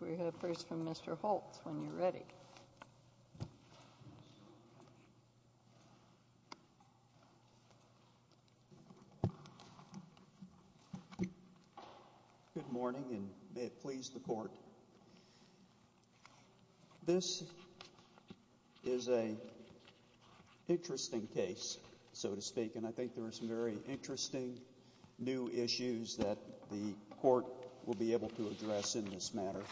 We have first from Mr. Holtz, when you're ready. Good morning, and may it please the Court. This is a interesting case, so to speak, and I think there are some very interesting new issues that the Court will be able to address in this matter.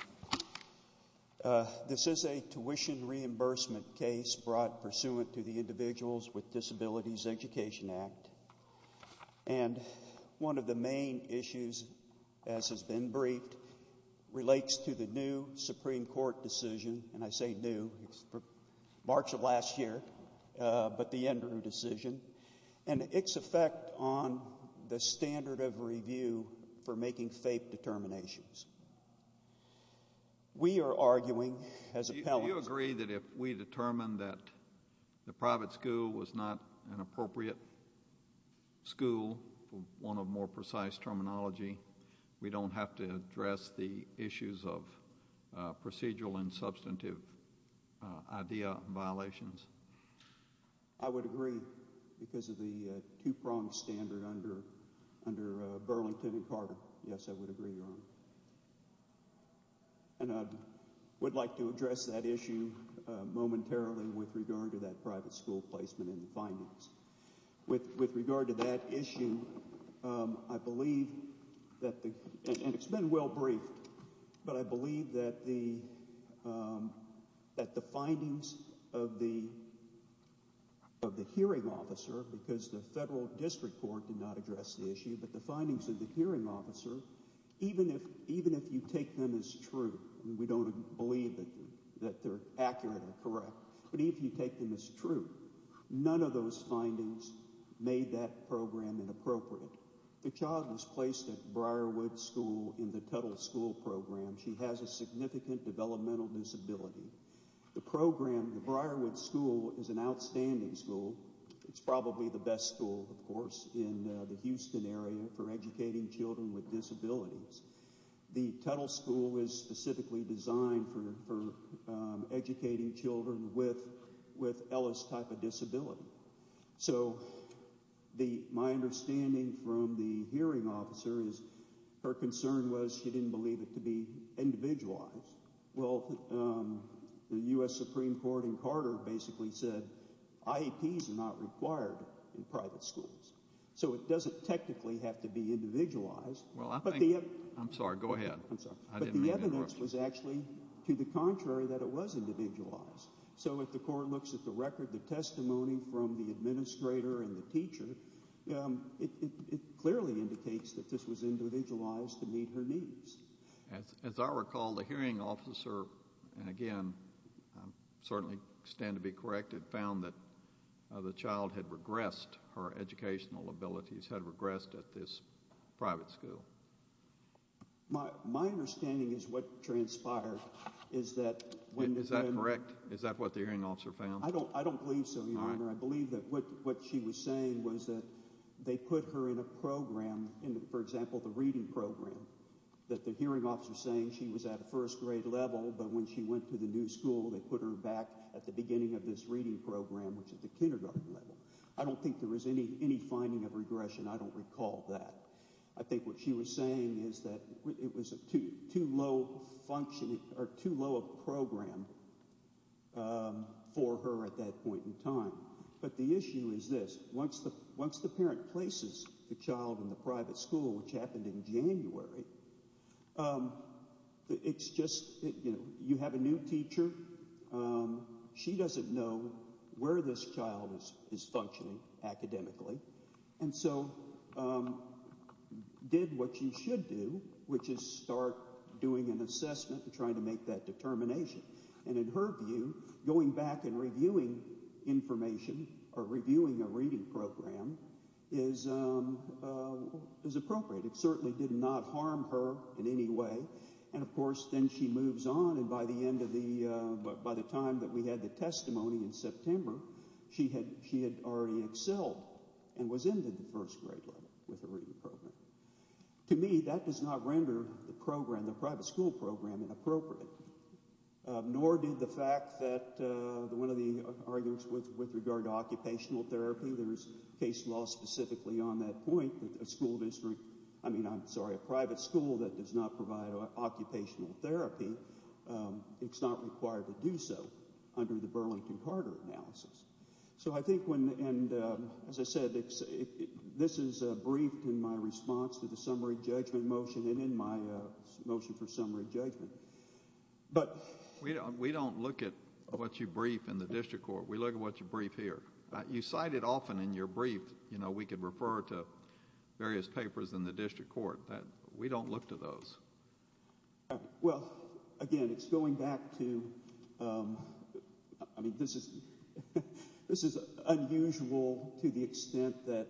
This is a tuition reimbursement case brought pursuant to the Individuals with Disabilities Education Act, and one of the main issues, as has been briefed, relates to the new Supreme Court decision, and I say new, it's for March of last year, but the We are arguing as appellants... Do you agree that if we determine that the private school was not an appropriate school, for want of more precise terminology, we don't have to address the issues of procedural and substantive idea violations? I would agree because of the two-pronged standard under Burlington and Carter. Yes, I would agree, Your Honor, and I would like to address that issue momentarily with regard to that private school placement and the findings. With regard to that issue, I believe that the... and it's been well briefed, but I believe that the findings of the hearing officer, because the Federal District Court did not address the issue, but the findings of the hearing officer, even if you take them as true, and we don't believe that they're accurate or correct, but even if you take them as true, none of those findings made that program inappropriate. The child was placed at Briarwood School in the Tuttle School Program. She has a significant developmental disability. The program, the Briarwood School, is an outstanding school. It's probably the best school, of course, in the Houston area for educating children with disabilities. The Tuttle School is specifically designed for educating children with Ellis' type of disability. So my understanding from the hearing officer is her concern was she didn't believe it to be individualized. Well, the U.S. Supreme Court in Carter basically said IEPs are not required in private schools, so it doesn't technically have to be individualized. Well, I think... I'm sorry, go ahead. I'm sorry. I didn't mean to interrupt you. But the evidence was actually to the contrary that it was individualized. So if the court looks at the record, the testimony from the administrator and the teacher, it clearly indicates that this was individualized to meet her needs. As I recall, the hearing officer, and again, I certainly stand to be correct, had found that the child had regressed her educational abilities, had regressed at this private school. My understanding is what transpired is that... Is that correct? Is that what the hearing officer found? I don't believe so, Your Honor. I believe that what she was saying was that they put her in a program, for example, the reading program, that the hearing officer was saying she was at a first grade level, but when she went to the new school, they put her back at the reading program, which is the kindergarten level. I don't think there was any finding of regression. I don't recall that. I think what she was saying is that it was too low of a program for her at that point in time. But the issue is this. Once the parent places the child in the private school, which happened in January, it's just... You have a new school. You don't know where this child is functioning academically. And so did what she should do, which is start doing an assessment and trying to make that determination. And in her view, going back and reviewing information or reviewing a reading program is appropriate. It certainly did not harm her in any way. And of course, then she moves on, and by the end of the... By the time that we had the testimony in September, she had already excelled and was in the first grade level with the reading program. To me, that does not render the program, the private school program, inappropriate. Nor did the fact that one of the arguments with regard to occupational therapy, there's case law specifically on that point, that a private school that does not provide occupational therapy, it's not required to do so under the Burlington-Carter analysis. So I think when... And as I said, this is briefed in my response to the summary judgment motion and in my motion for summary judgment. We don't look at what you brief in the district court. We look at what you brief here. You can refer to various papers in the district court. We don't look to those. Well, again, it's going back to... I mean, this is unusual to the extent that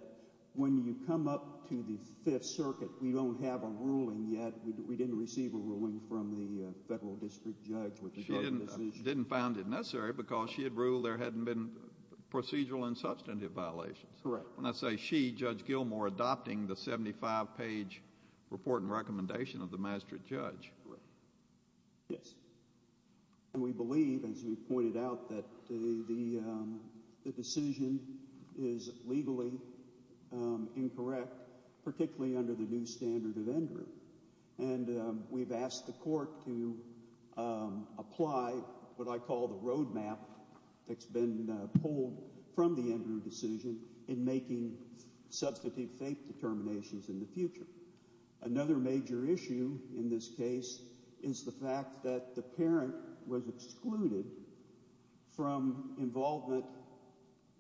when you come up to the Fifth Circuit, we don't have a ruling yet. We didn't receive a ruling from the federal district judge with regard to this issue. She didn't found it necessary because she had ruled there hadn't been procedural and substantive violations. Correct. When I say she, Judge Gilmour adopting the 75-page report and recommendation of the magistrate judge. Yes. And we believe, as you pointed out, that the decision is legally incorrect, particularly under the new standard of injury. And we've asked the court to apply what I call the roadmap that's been pulled from the Andrew decision in making substantive faith determinations in the future. Another major issue in this case is the fact that the parent was excluded from involvement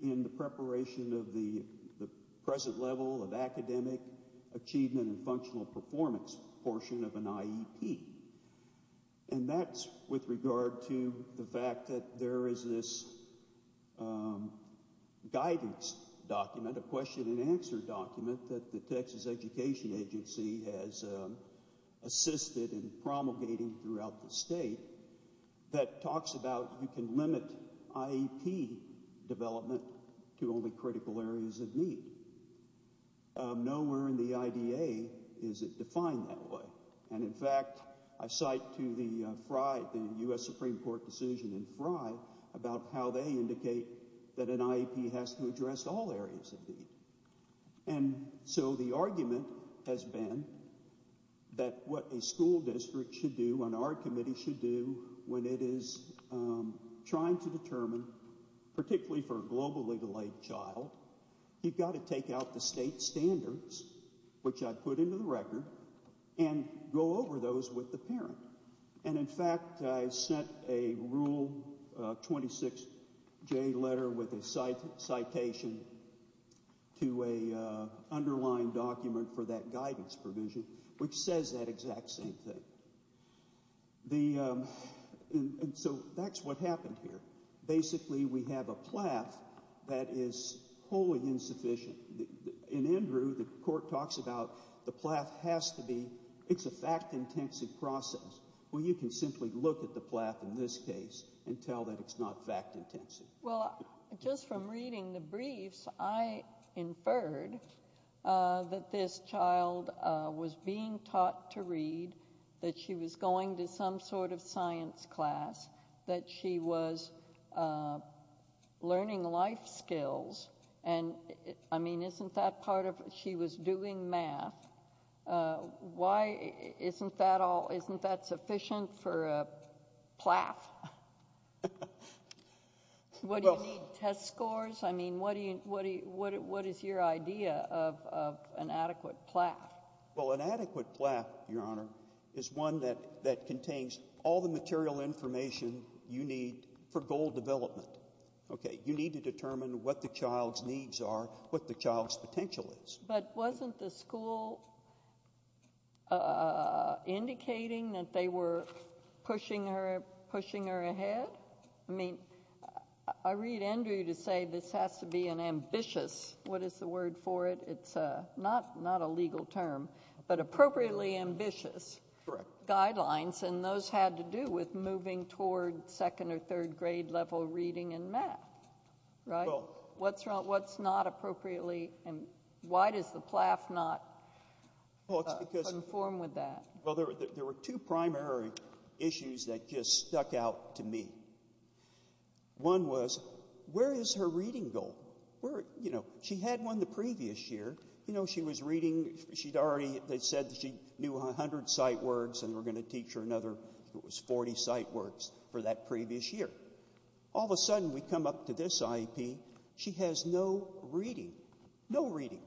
in the preparation of the present level of academic achievement and functional performance portion of an IEP. And that's with regard to the fact that there is this guidance document, a question and answer document that the Texas Education Agency has assisted in promulgating throughout the state that talks about you can limit IEP development to only critical areas of need. Nowhere in the IDA is it defined that way. And in fact, I cite to the FRI, the U.S. Supreme Court decision in FRI, about how they indicate that an IEP has to address all areas of need. And so the argument has been that what a school district should do, and our committee should do, when it is trying to determine, particularly for a global legal aid child, you've got to take out the state standards, which I put into the record, and go over those with the parent. And in fact, I sent a Rule 26J letter with a citation to an underlying document for that guidance provision, which says that exact same thing. And so that's what happened here. Basically, we have a PLAF that is wholly insufficient. In Andrew, the court talks about the PLAF has to be, it's a fact-intensive process. Well, you can simply look at the PLAF in this case and tell that it's not fact-intensive. Well, just from reading the briefs, I inferred that this child was being taught to read the book, that she was going to some sort of science class, that she was learning life skills, and I mean, isn't that part of, she was doing math. Why isn't that all, isn't that sufficient for a PLAF? What do you need, test scores? I mean, what is your idea of an adequate PLAF? Well, an adequate PLAF, Your Honor, is one that contains all the material information you need for goal development. Okay, you need to determine what the child's needs are, what the child's potential is. But wasn't the school indicating that they were pushing her ahead? I mean, I read Andrew to say this has to be an ambitious, what is the word for it? It's not a legal term, but appropriately ambitious guidelines, and those had to do with moving toward second or third grade level reading in math, right? What's not appropriately, why does the PLAF not conform with that? Well, there were two primary issues that just stuck out to me. One was, where is the child reading goal? Where, you know, she had one the previous year, you know, she was reading, she'd already, they said she knew 100 sight words and we're going to teach her another, it was 40 sight words for that previous year. All of a sudden, we come up to this IEP, she has no reading, no reading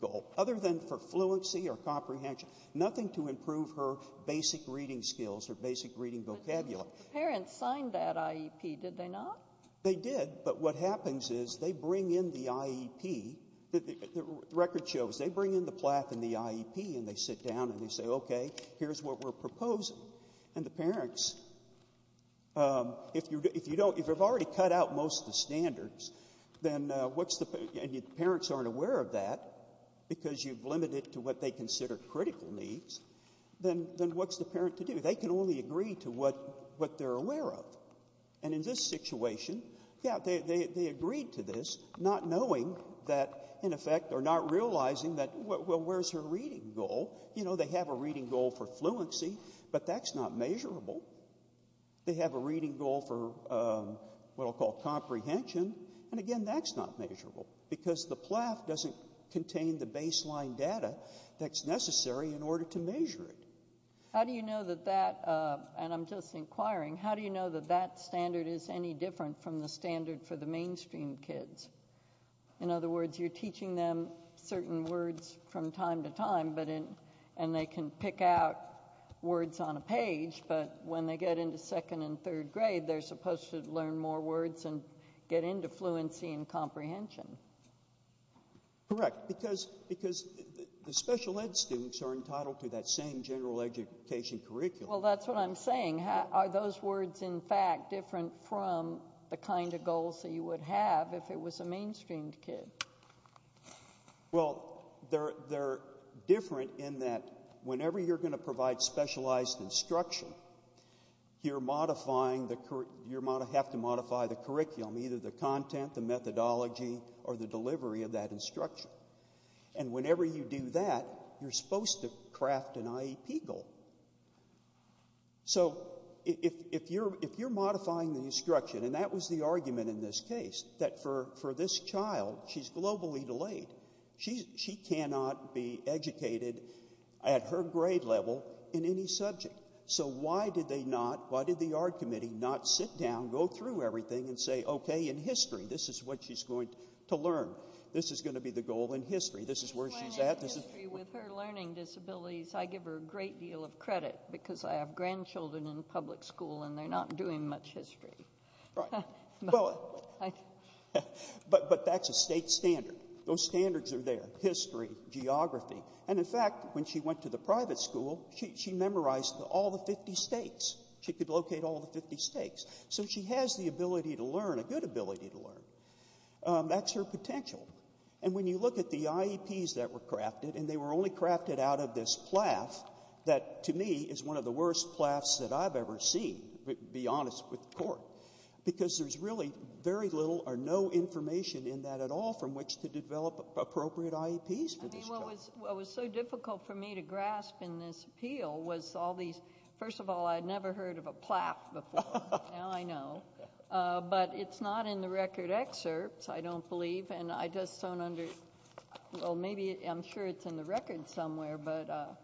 goal, other than for fluency or comprehension, nothing to improve her basic reading skills, her basic reading vocabulary. But didn't the parents sign that IEP, did they not? They did, but what happens is they bring in the IEP, the record shows, they bring in the PLAF and the IEP and they sit down and they say, okay, here's what we're proposing. And the parents, if you don't, if you've already cut out most of the standards, then what's the, and the parents aren't aware of that, because you've limited it to what they consider critical needs, then what's the parent to do? They can only agree to what they're aware of. And in this situation, yeah, they agreed to this, not knowing that, in effect, or not realizing that, well, where's her reading goal? You know, they have a reading goal for fluency, but that's not measurable. They have a reading goal for what I'll call comprehension, and again, that's not measurable, because the PLAF doesn't contain the baseline data that's necessary in order to measure it. How do you know that that, and I'm just inquiring, how do you know that that standard is any different from the standard for the mainstream kids? In other words, you're teaching them certain words from time to time, but in, and they can pick out words on a page, but when they get into second and third grade, they're supposed to learn more words and get into fluency and comprehension. Correct, because the special ed students are entitled to that same general education curriculum. Well, that's what I'm saying. Are those words, in fact, different from the kind of goals that you would have if it was a mainstreamed kid? Well, they're different in that whenever you're going to provide specialized instruction, you're modifying the, you have to modify the curriculum, either the content, the methodology, or the delivery of that instruction, and whenever you do that, you're supposed to craft an IEP goal, so if you're modifying the instruction, and that was the argument in this case, that for this child, she's globally delayed. She cannot be educated at her grade level in any subject, so why did they not, why did the art committee not sit down, go through everything, and say, okay, in history, this is what she's going to learn. This is going to be the goal in history. This is where she's at. With her learning disabilities, I give her a great deal of credit, because I have grandchildren in public school, and they're not doing much history. Right, but that's a state standard. Those standards are there, history, geography, and in fact, when she went to the private school, she memorized all the 50 states. She could learn, a good ability to learn. That's her potential, and when you look at the IEPs that were crafted, and they were only crafted out of this PLAF, that to me is one of the worst PLAFs that I've ever seen, to be honest with the Court, because there's really very little or no information in that at all from which to develop appropriate IEPs for this child. I mean, what was so difficult for me to grasp in this appeal was all these, first of all, I'd never heard of a PLAF before, now I know, but it's not in the record excerpts, I don't believe, and I just don't under, well, maybe, I'm sure it's in the record somewhere, but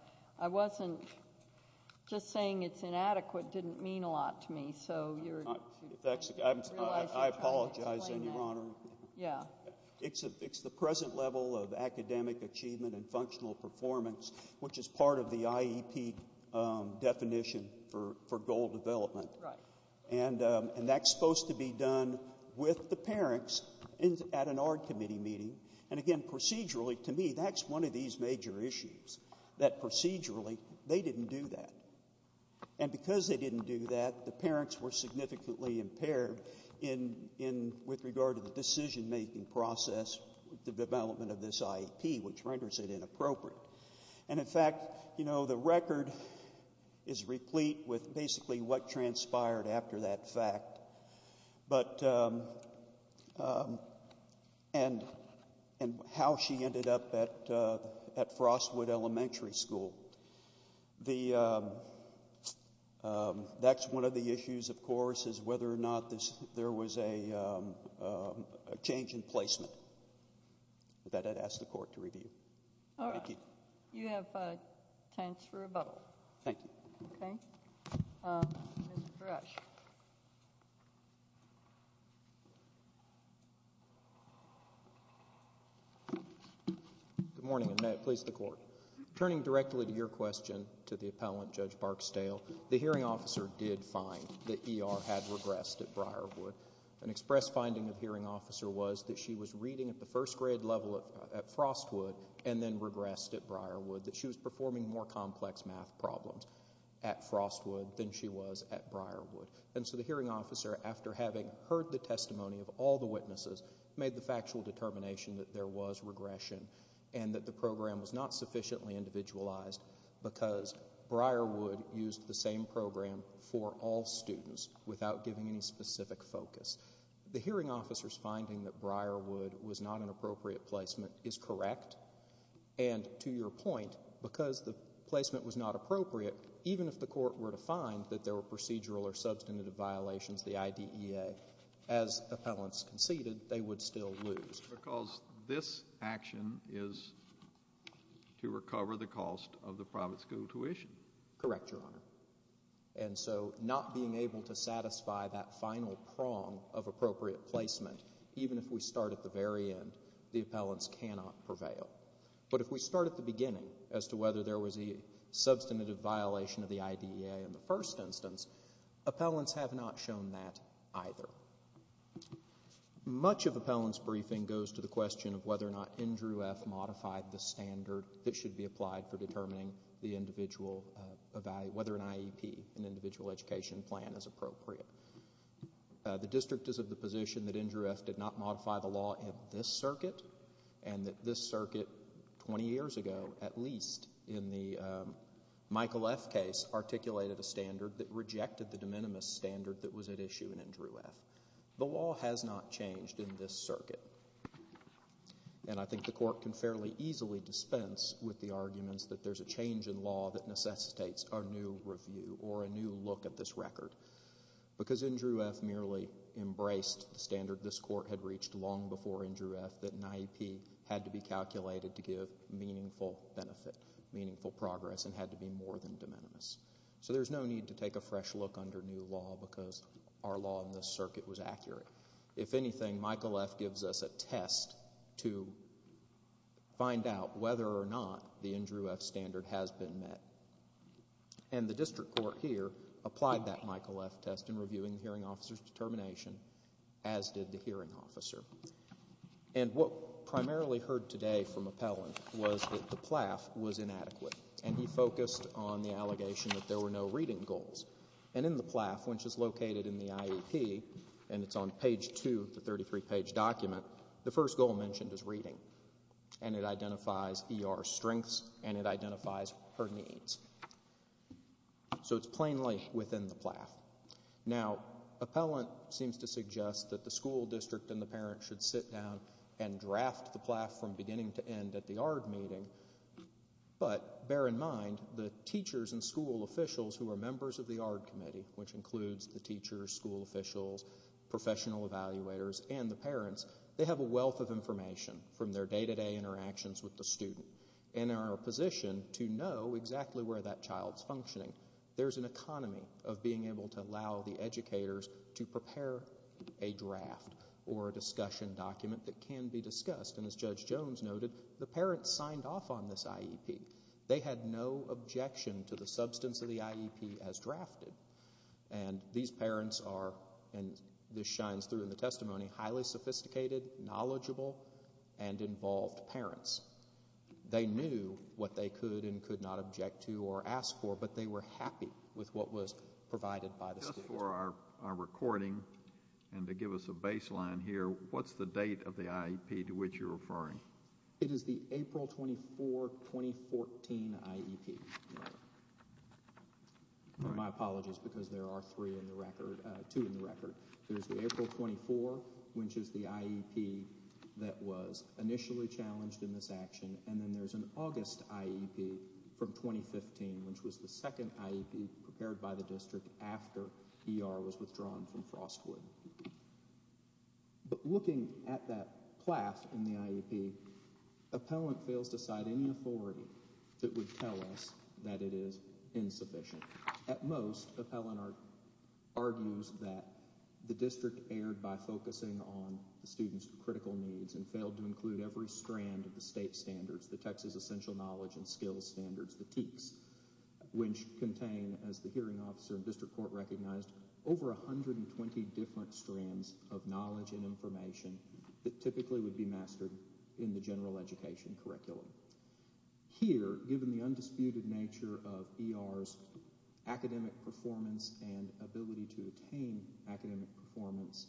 I wasn't, just saying it's inadequate didn't mean a lot to me, so you're, I apologize, then, Your Honor. Yeah. It's the present level of academic achievement and functional performance, which is part of the IEP definition for goal development. Right. And that's supposed to be done with the parents at an ARD committee meeting, and again, procedurally, to me, that's one of these major issues, that procedurally, they didn't do that. And because they didn't do that, the parents were significantly impaired in, with regard to the decision-making process, the development of this IEP, which renders it inappropriate. And, in fact, you know, the record is replete with basically what transpired after that fact, but, and how she ended up at Frostwood Elementary School. The, that's one of the issues, of course, is whether or not there was a change in placement that I'd ask the Court to review. All right. Thank you. You have time for rebuttal. Thank you. Okay. Mr. Rush. Good morning, and may it please the Court. Turning directly to your question to the appellant, Judge Barksdale, the hearing officer did find that ER had regressed at Briarwood. An express finding of hearing officer was that she was reading at the first grade level at Frostwood and then regressed at Briarwood, that she was performing more complex math problems at Frostwood than she was at Briarwood. And so the hearing officer, after having heard the testimony of all the witnesses, made the factual determination that there was regression and that the program was not sufficiently individualized because Briarwood used the same program for all students without giving any specific focus. The hearing officer's finding that Briarwood was not an appropriate placement is correct. And to your point, because the placement was not appropriate, even if the Court were to find that there were procedural or substantive violations of the IDEA, as appellants conceded, they would still lose. Because this action is to recover the cost of the private school tuition. Correct, Your Honor. And so not being able to satisfy that final prong of appropriate placement, even if we start at the very end, the appellants cannot prevail. But if we start at the beginning as to whether there was a substantive violation of the IDEA in the first instance, appellants have not shown that either. Much of appellants' briefing goes to the question of whether or not Andrew F. modified the NIEP, an individual education plan, as appropriate. The District is of the position that Andrew F. did not modify the law in this circuit and that this circuit 20 years ago, at least in the Michael F. case, articulated a standard that rejected the de minimis standard that was at issue in Andrew F. The law has not changed in this circuit. And I think the Court can fairly easily dispense with the arguments that there's a change in law that necessitates a new review or a new look at this record. Because Andrew F. merely embraced the standard this Court had reached long before Andrew F. that NIEP had to be calculated to give meaningful benefit, meaningful progress, and had to be more than de minimis. So there's no need to take a fresh look under new law because our law in this circuit was accurate. If anything, Michael F. gives us a test to find out whether or not the Andrew F. standard has been met. And the District Court here applied that Michael F. test in reviewing the hearing officer's determination, as did the hearing officer. And what primarily heard today from appellants was that the PLAF was inadequate. And he focused on the allegation that there were no reading goals. And in the PLAF, which is located in the IEP, and it's on page 2 of the 33-page document, the first goal mentioned is reading. And it identifies ER strengths and it identifies her needs. So it's plainly within the PLAF. Now, appellant seems to suggest that the school district and the parent should sit down and draft the PLAF from beginning to end at the ARD meeting. But bear in mind, the teachers and school officials who are members of the ARD committee, which includes the teachers, school officials, professional evaluators, and the parents, they have a wealth of information from their day-to-day interactions with the student and are positioned to know exactly where that child's functioning. There's an economy of being able to allow the educators to prepare a draft or a discussion document that can be discussed. And as Judge Jones noted, the parents signed off on this IEP. They had no objection to the substance of the IEP as drafted. And these parents are, and this shines through in the testimony, highly sophisticated, knowledgeable, and involved parents. They knew what they could and could not object to or ask for, but they were happy with what was provided by the school district. Just for our recording and to give us a baseline here, what's the date of the IEP to which you're referring? It is the April 24, 2014 IEP. My apologies, because there are two in the record. There's the April 24, which is the IEP that was initially challenged in this action, and then there's an August IEP from 2015, which was the second IEP prepared by the district after ER was withdrawn from Frostwood. But looking at that class in the IEP, appellant fails to cite any authority that would tell us that it is insufficient. At most, appellant argues that the district erred by focusing on the students' critical needs and failed to include every strand of the state standards, the Texas Essential Knowledge and Skills Standards, the TEKS, which contain, as the hearing officer and district court recognized, over 120 different strands of knowledge and information that typically would be mastered in the general education curriculum. Here, given the undisputed nature of ER's academic performance and ability to attain academic performance,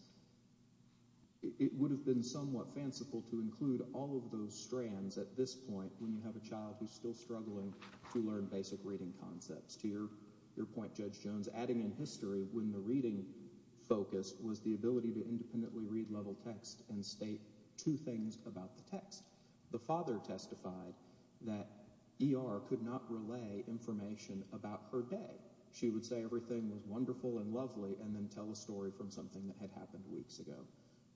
it would have been somewhat fanciful to include all of those strands at this point when you have a child who's still struggling to learn basic reading concepts. To your point, Judge Jones, adding in history when the reading focus was the ability to independently read level text and state two things about the text. The father testified that ER could not relay information about her day. She would say everything was wonderful and lovely and then tell a story from something that had happened weeks ago.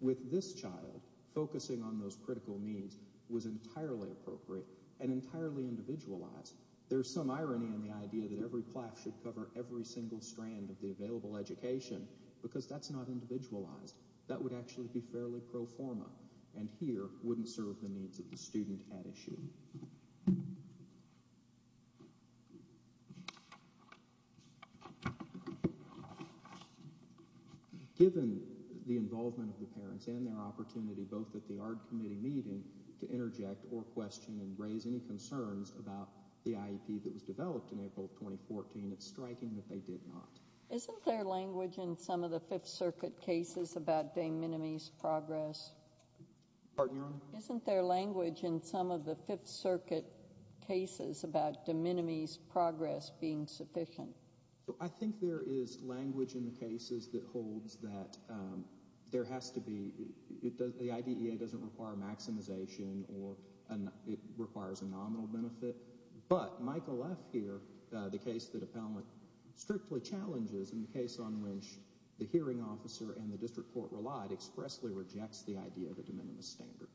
With this child, focusing on those critical needs was entirely appropriate and entirely individualized. There's some irony in the idea that every plaque should cover every single strand of the available education because that's not individualized. That would actually be fairly pro forma, and here wouldn't serve the needs of the student at issue. Given the involvement of the parents and their opportunity, both at the ARD committee meeting to interject or question and raise any concerns about the IEP that was developed in April 2014, it's striking that they did not. Isn't there language in some of the Fifth Circuit cases about de minimis progress? Pardon your honor? Isn't there language in some of the Fifth Circuit cases about de minimis progress being sufficient? I think there is language in the cases that holds that there has to be, the IDEA doesn't require maximization or it requires a nominal benefit, but Michael F. here, the case that Appellant strictly challenges in the case on which the hearing officer and the district court relied expressly rejects the idea of a de minimis standard.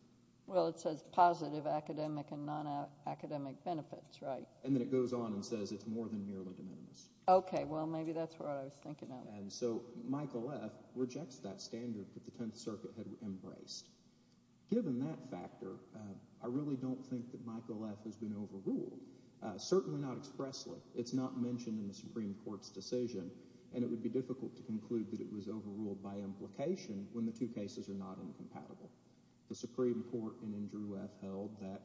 Well, it says positive academic and non-academic benefits, right? And then it goes on and says it's more than merely de minimis. Okay, well maybe that's what I was thinking of. And so Michael F. rejects that standard that the Tenth Circuit had embraced. Given that factor, I really don't think that Michael F. has been overruled, certainly not expressly. It's not mentioned in the Supreme Court's decision, and it would be difficult to conclude that it was overruled by implication when the two cases are not incompatible. The Supreme Court in Andrew F. held that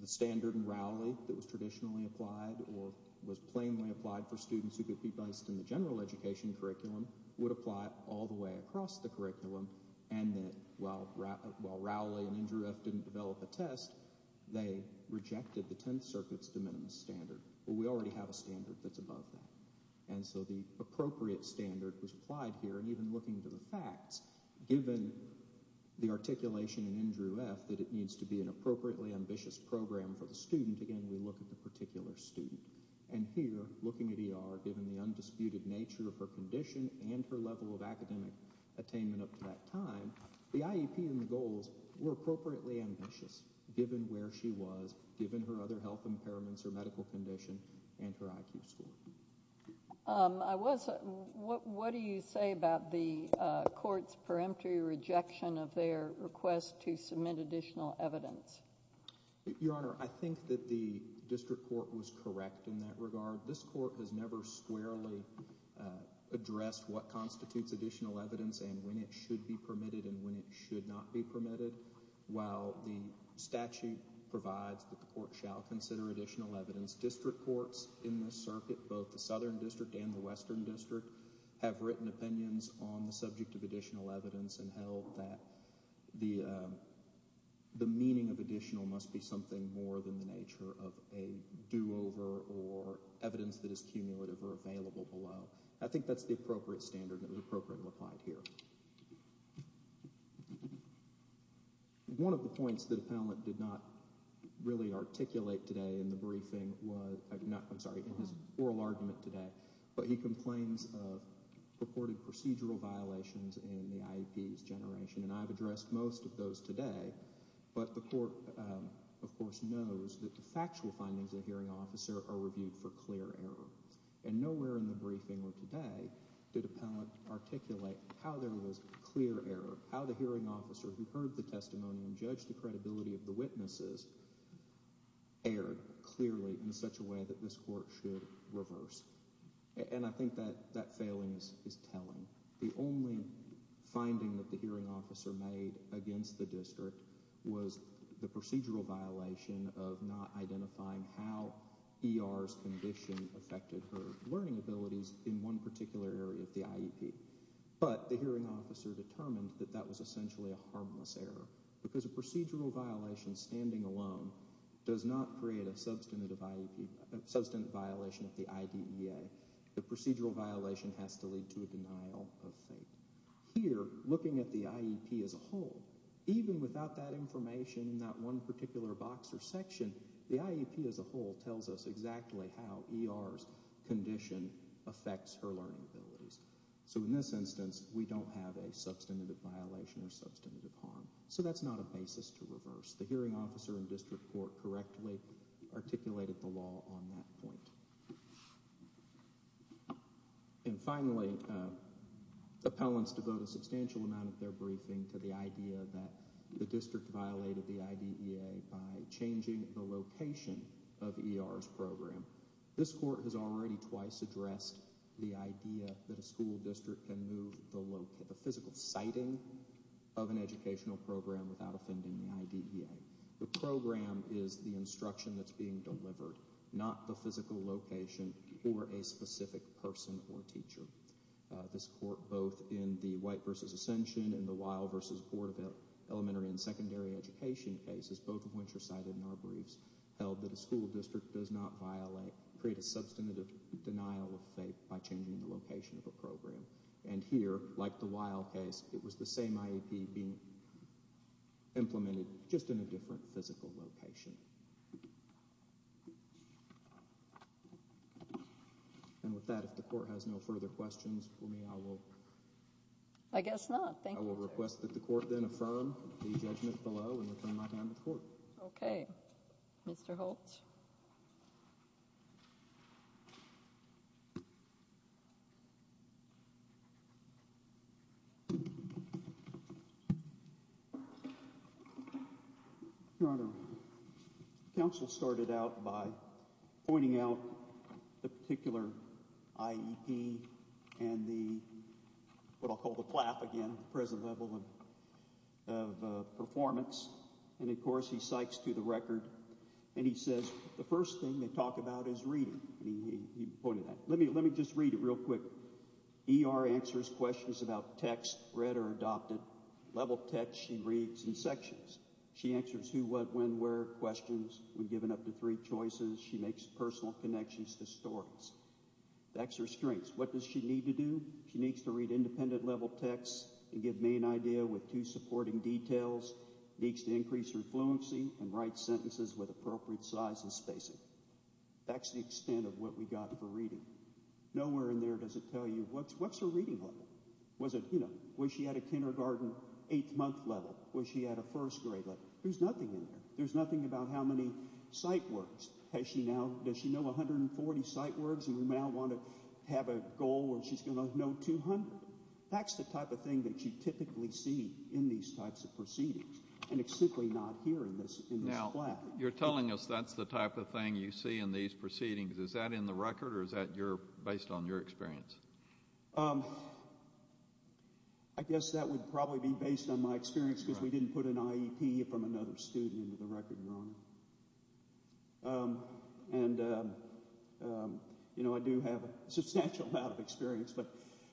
the standard in Rowley that was traditionally applied or was plainly applied for students who could be based in the general education curriculum would apply all the way across the curriculum and that while Rowley and Andrew F. didn't develop a test, they rejected the Tenth Circuit's de minimis standard. Well, we already have a standard that's above that. And so the appropriate standard was applied here, and even looking to the facts, given the articulation in Andrew F. that it needs to be an appropriately ambitious program for the student, again, we look at the particular student. And here, looking at E.R., given the undisputed nature of her condition and her level of academic attainment up to that time, the IEP and the goals were appropriately ambitious given where she was, given her other health impairments, her medical condition, and her IQ score. What do you say about the court's peremptory rejection of their request to submit additional evidence? Your Honor, I think that the district court was correct in that regard. This court has never squarely addressed what constitutes additional evidence and when it should be permitted and when it should not be permitted. While the statute provides that the court shall consider additional evidence, district courts in this circuit, both the Southern District and the Western District, have written opinions on the subject of additional evidence and held that the meaning of additional must be something more than the nature of a do-over or evidence that is cumulative or available below. I think that's the appropriate standard that was appropriately applied here. One of the points that Appellant did not really articulate today in the briefing, I'm sorry, in his oral argument today, but he complains of purported procedural violations in the IEP's generation, and I've addressed most of those today, but the court, of course, knows that the factual findings of the hearing officer are reviewed for clear error. Nowhere in the briefing or today did Appellant articulate how there was clear error, how the hearing officer who heard the testimony and judged the credibility of the witnesses erred clearly in such a way that this court should reverse, and I think that that failing is telling. The only finding that the hearing officer made against the district was the procedural violation of not identifying how ER's condition affected her learning abilities in one particular area of the IEP, but the hearing officer determined that that was essentially a harmless error because a procedural violation standing alone does not create a substantive violation of the IDEA. The procedural violation has to lead to a denial of fate. Here, looking at the IEP as a whole, even without that information in that one particular box or section, the IEP as a whole tells us exactly how ER's condition affects her learning abilities. So in this instance, we don't have a substantive violation or substantive harm. So that's not a basis to reverse. The hearing officer in district court correctly articulated the law on that point. And finally, appellants devote a substantial amount of their briefing to the idea that the district violated the IDEA by changing the location of ER's program. This court has already twice addressed the idea that a school district can move the physical siting of an educational program without offending the IDEA. The program is the instruction that's being delivered, not the physical location or a specific person or teacher. This court, both in the White v. Ascension and the Weill v. Board of Elementary and Secondary Education cases, both of which are cited in our briefs, held that a school district does not create a substantive denial of fate by changing the location of a program. And here, like the Weill case, it was the same IEP being implemented just in a different physical location. And with that, if the court has no further questions for me, I will... I guess not. Thank you. I will request that the court then affirm the judgment below and return my hand to court. Okay. Mr. Holtz? Your Honor, counsel started out by pointing out the particular IEP and the, what I'll call the plaf again, present level of performance. And, of course, he cites to the record, and he says, the first thing they talk about is reading. He pointed that. Let me just read it real quick. ER answers questions about text, read or adopted, level text she reads in sections. She answers who, what, when, where questions. We've given up to three choices. She makes personal connections to stories. That's her strengths. What does she need to do? She needs to read independent level text and give main idea with two supporting details. Needs to increase her fluency and write sentences with appropriate size and spacing. That's the extent of what we got for reading. Nowhere in there does it tell you, what's her reading level? Was it, you know, was she at a kindergarten, eighth month level? Was she at a first grade level? There's nothing in there. There's nothing about how many sight words. Does she know 140 sight words and now want to have a goal where she's going to know 200? That's the type of thing that you typically see in these types of proceedings, and it's simply not here in this plaque. Now, you're telling us that's the type of thing you see in these proceedings. Is that in the record or is that based on your experience? I guess that would probably be based on my experience because we didn't put an IEP from another student into the record, Ron, and, you know, I do have a substantial amount of experience.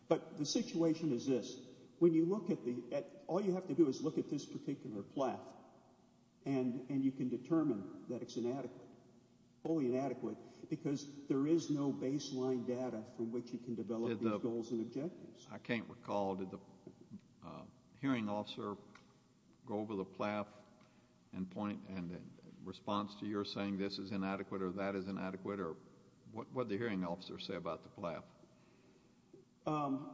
But the situation is this. When you look at the—all you have to do is look at this particular plaque and you can determine that it's inadequate, fully inadequate, because there is no baseline data from which you can develop these goals and objectives. I can't recall. Did the hearing officer go over the plaque and point in response to your saying this is inadequate or that is inadequate or what did the hearing officer say about the plaque?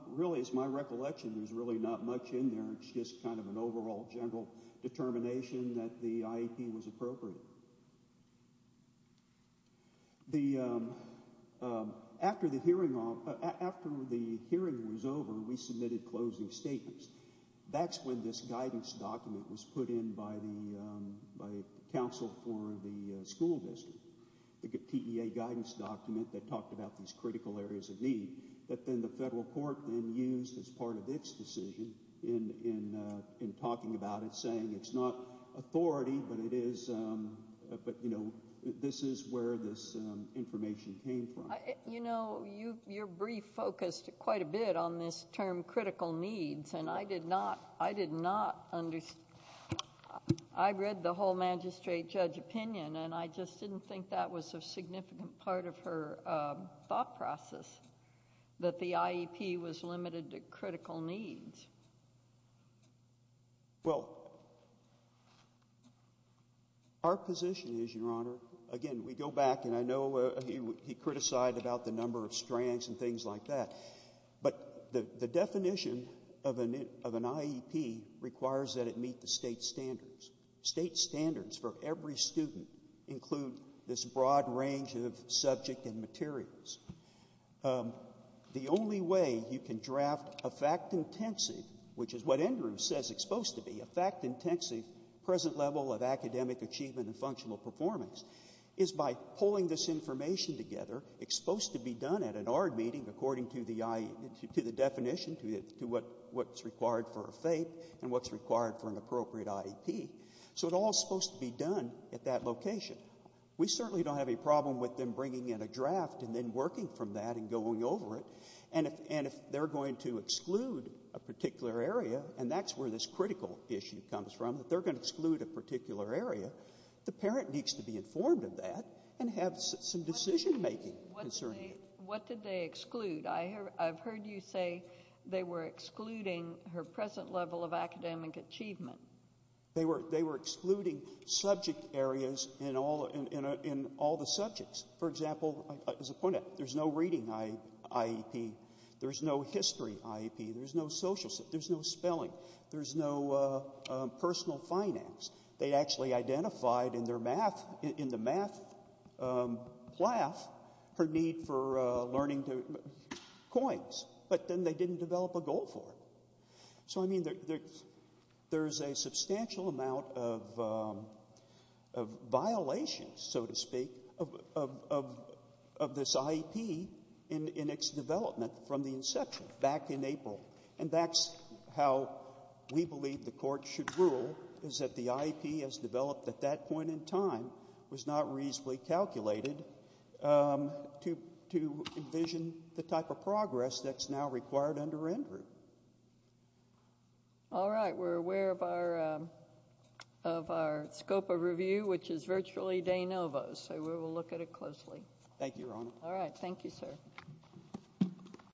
Really, it's my recollection there's really not much in there. It's just kind of an overall general determination that the IEP was appropriate. After the hearing was over, we submitted closing statements. That's when this guidance document was put in by the counsel for the school district, the TEA guidance document that talked about these critical areas of need that then the federal court then used as part of its decision in talking about it, saying it's not authority, but, you know, this is where this information came from. You know, your brief focused quite a bit on this term critical needs, and I did not understand. I read the whole magistrate judge opinion, and I just didn't think that was a significant part of her thought process, that the IEP was limited to critical needs. Well, our position is, Your Honor, again, we go back, and I know he criticized about the number of strands and things like that, but the definition of an IEP requires that it meet the state standards. State standards for every student include this broad range of subject and materials. The only way you can draft a fact-intensive, which is what Andrew says it's supposed to be, a fact-intensive present level of academic achievement and functional performance, is by pulling this information together, exposed to be done at an ARD meeting according to the definition, to what's required for a FAPE and what's required for an appropriate IEP. So it all is supposed to be done at that location. We certainly don't have a problem with them bringing in a draft and then working from that and going over it, and if they're going to exclude a particular area, and that's where this critical issue comes from, that they're going to exclude a particular area, the parent needs to be informed of that and have some decision-making. What did they exclude? I've heard you say they were excluding her present level of academic achievement. They were excluding subject areas in all the subjects. For example, as a point out, there's no reading IEP. There's no history IEP. There's no social, there's no spelling. There's no personal finance. They actually identified in their math, in the math plaf, her need for learning coins, but then they didn't develop a goal for it. So, I mean, there's a substantial amount of violations, so to speak, of this IEP in its development from the inception back in April, and that's how we believe the court should rule, is that the IEP as developed at that point in time was not reasonably calculated to envision the type of progress that's now required under Andrew. All right. We're aware of our scope of review, which is virtually de novo, so we will look at it closely. Thank you, Your Honor. All right. Thank you, sir.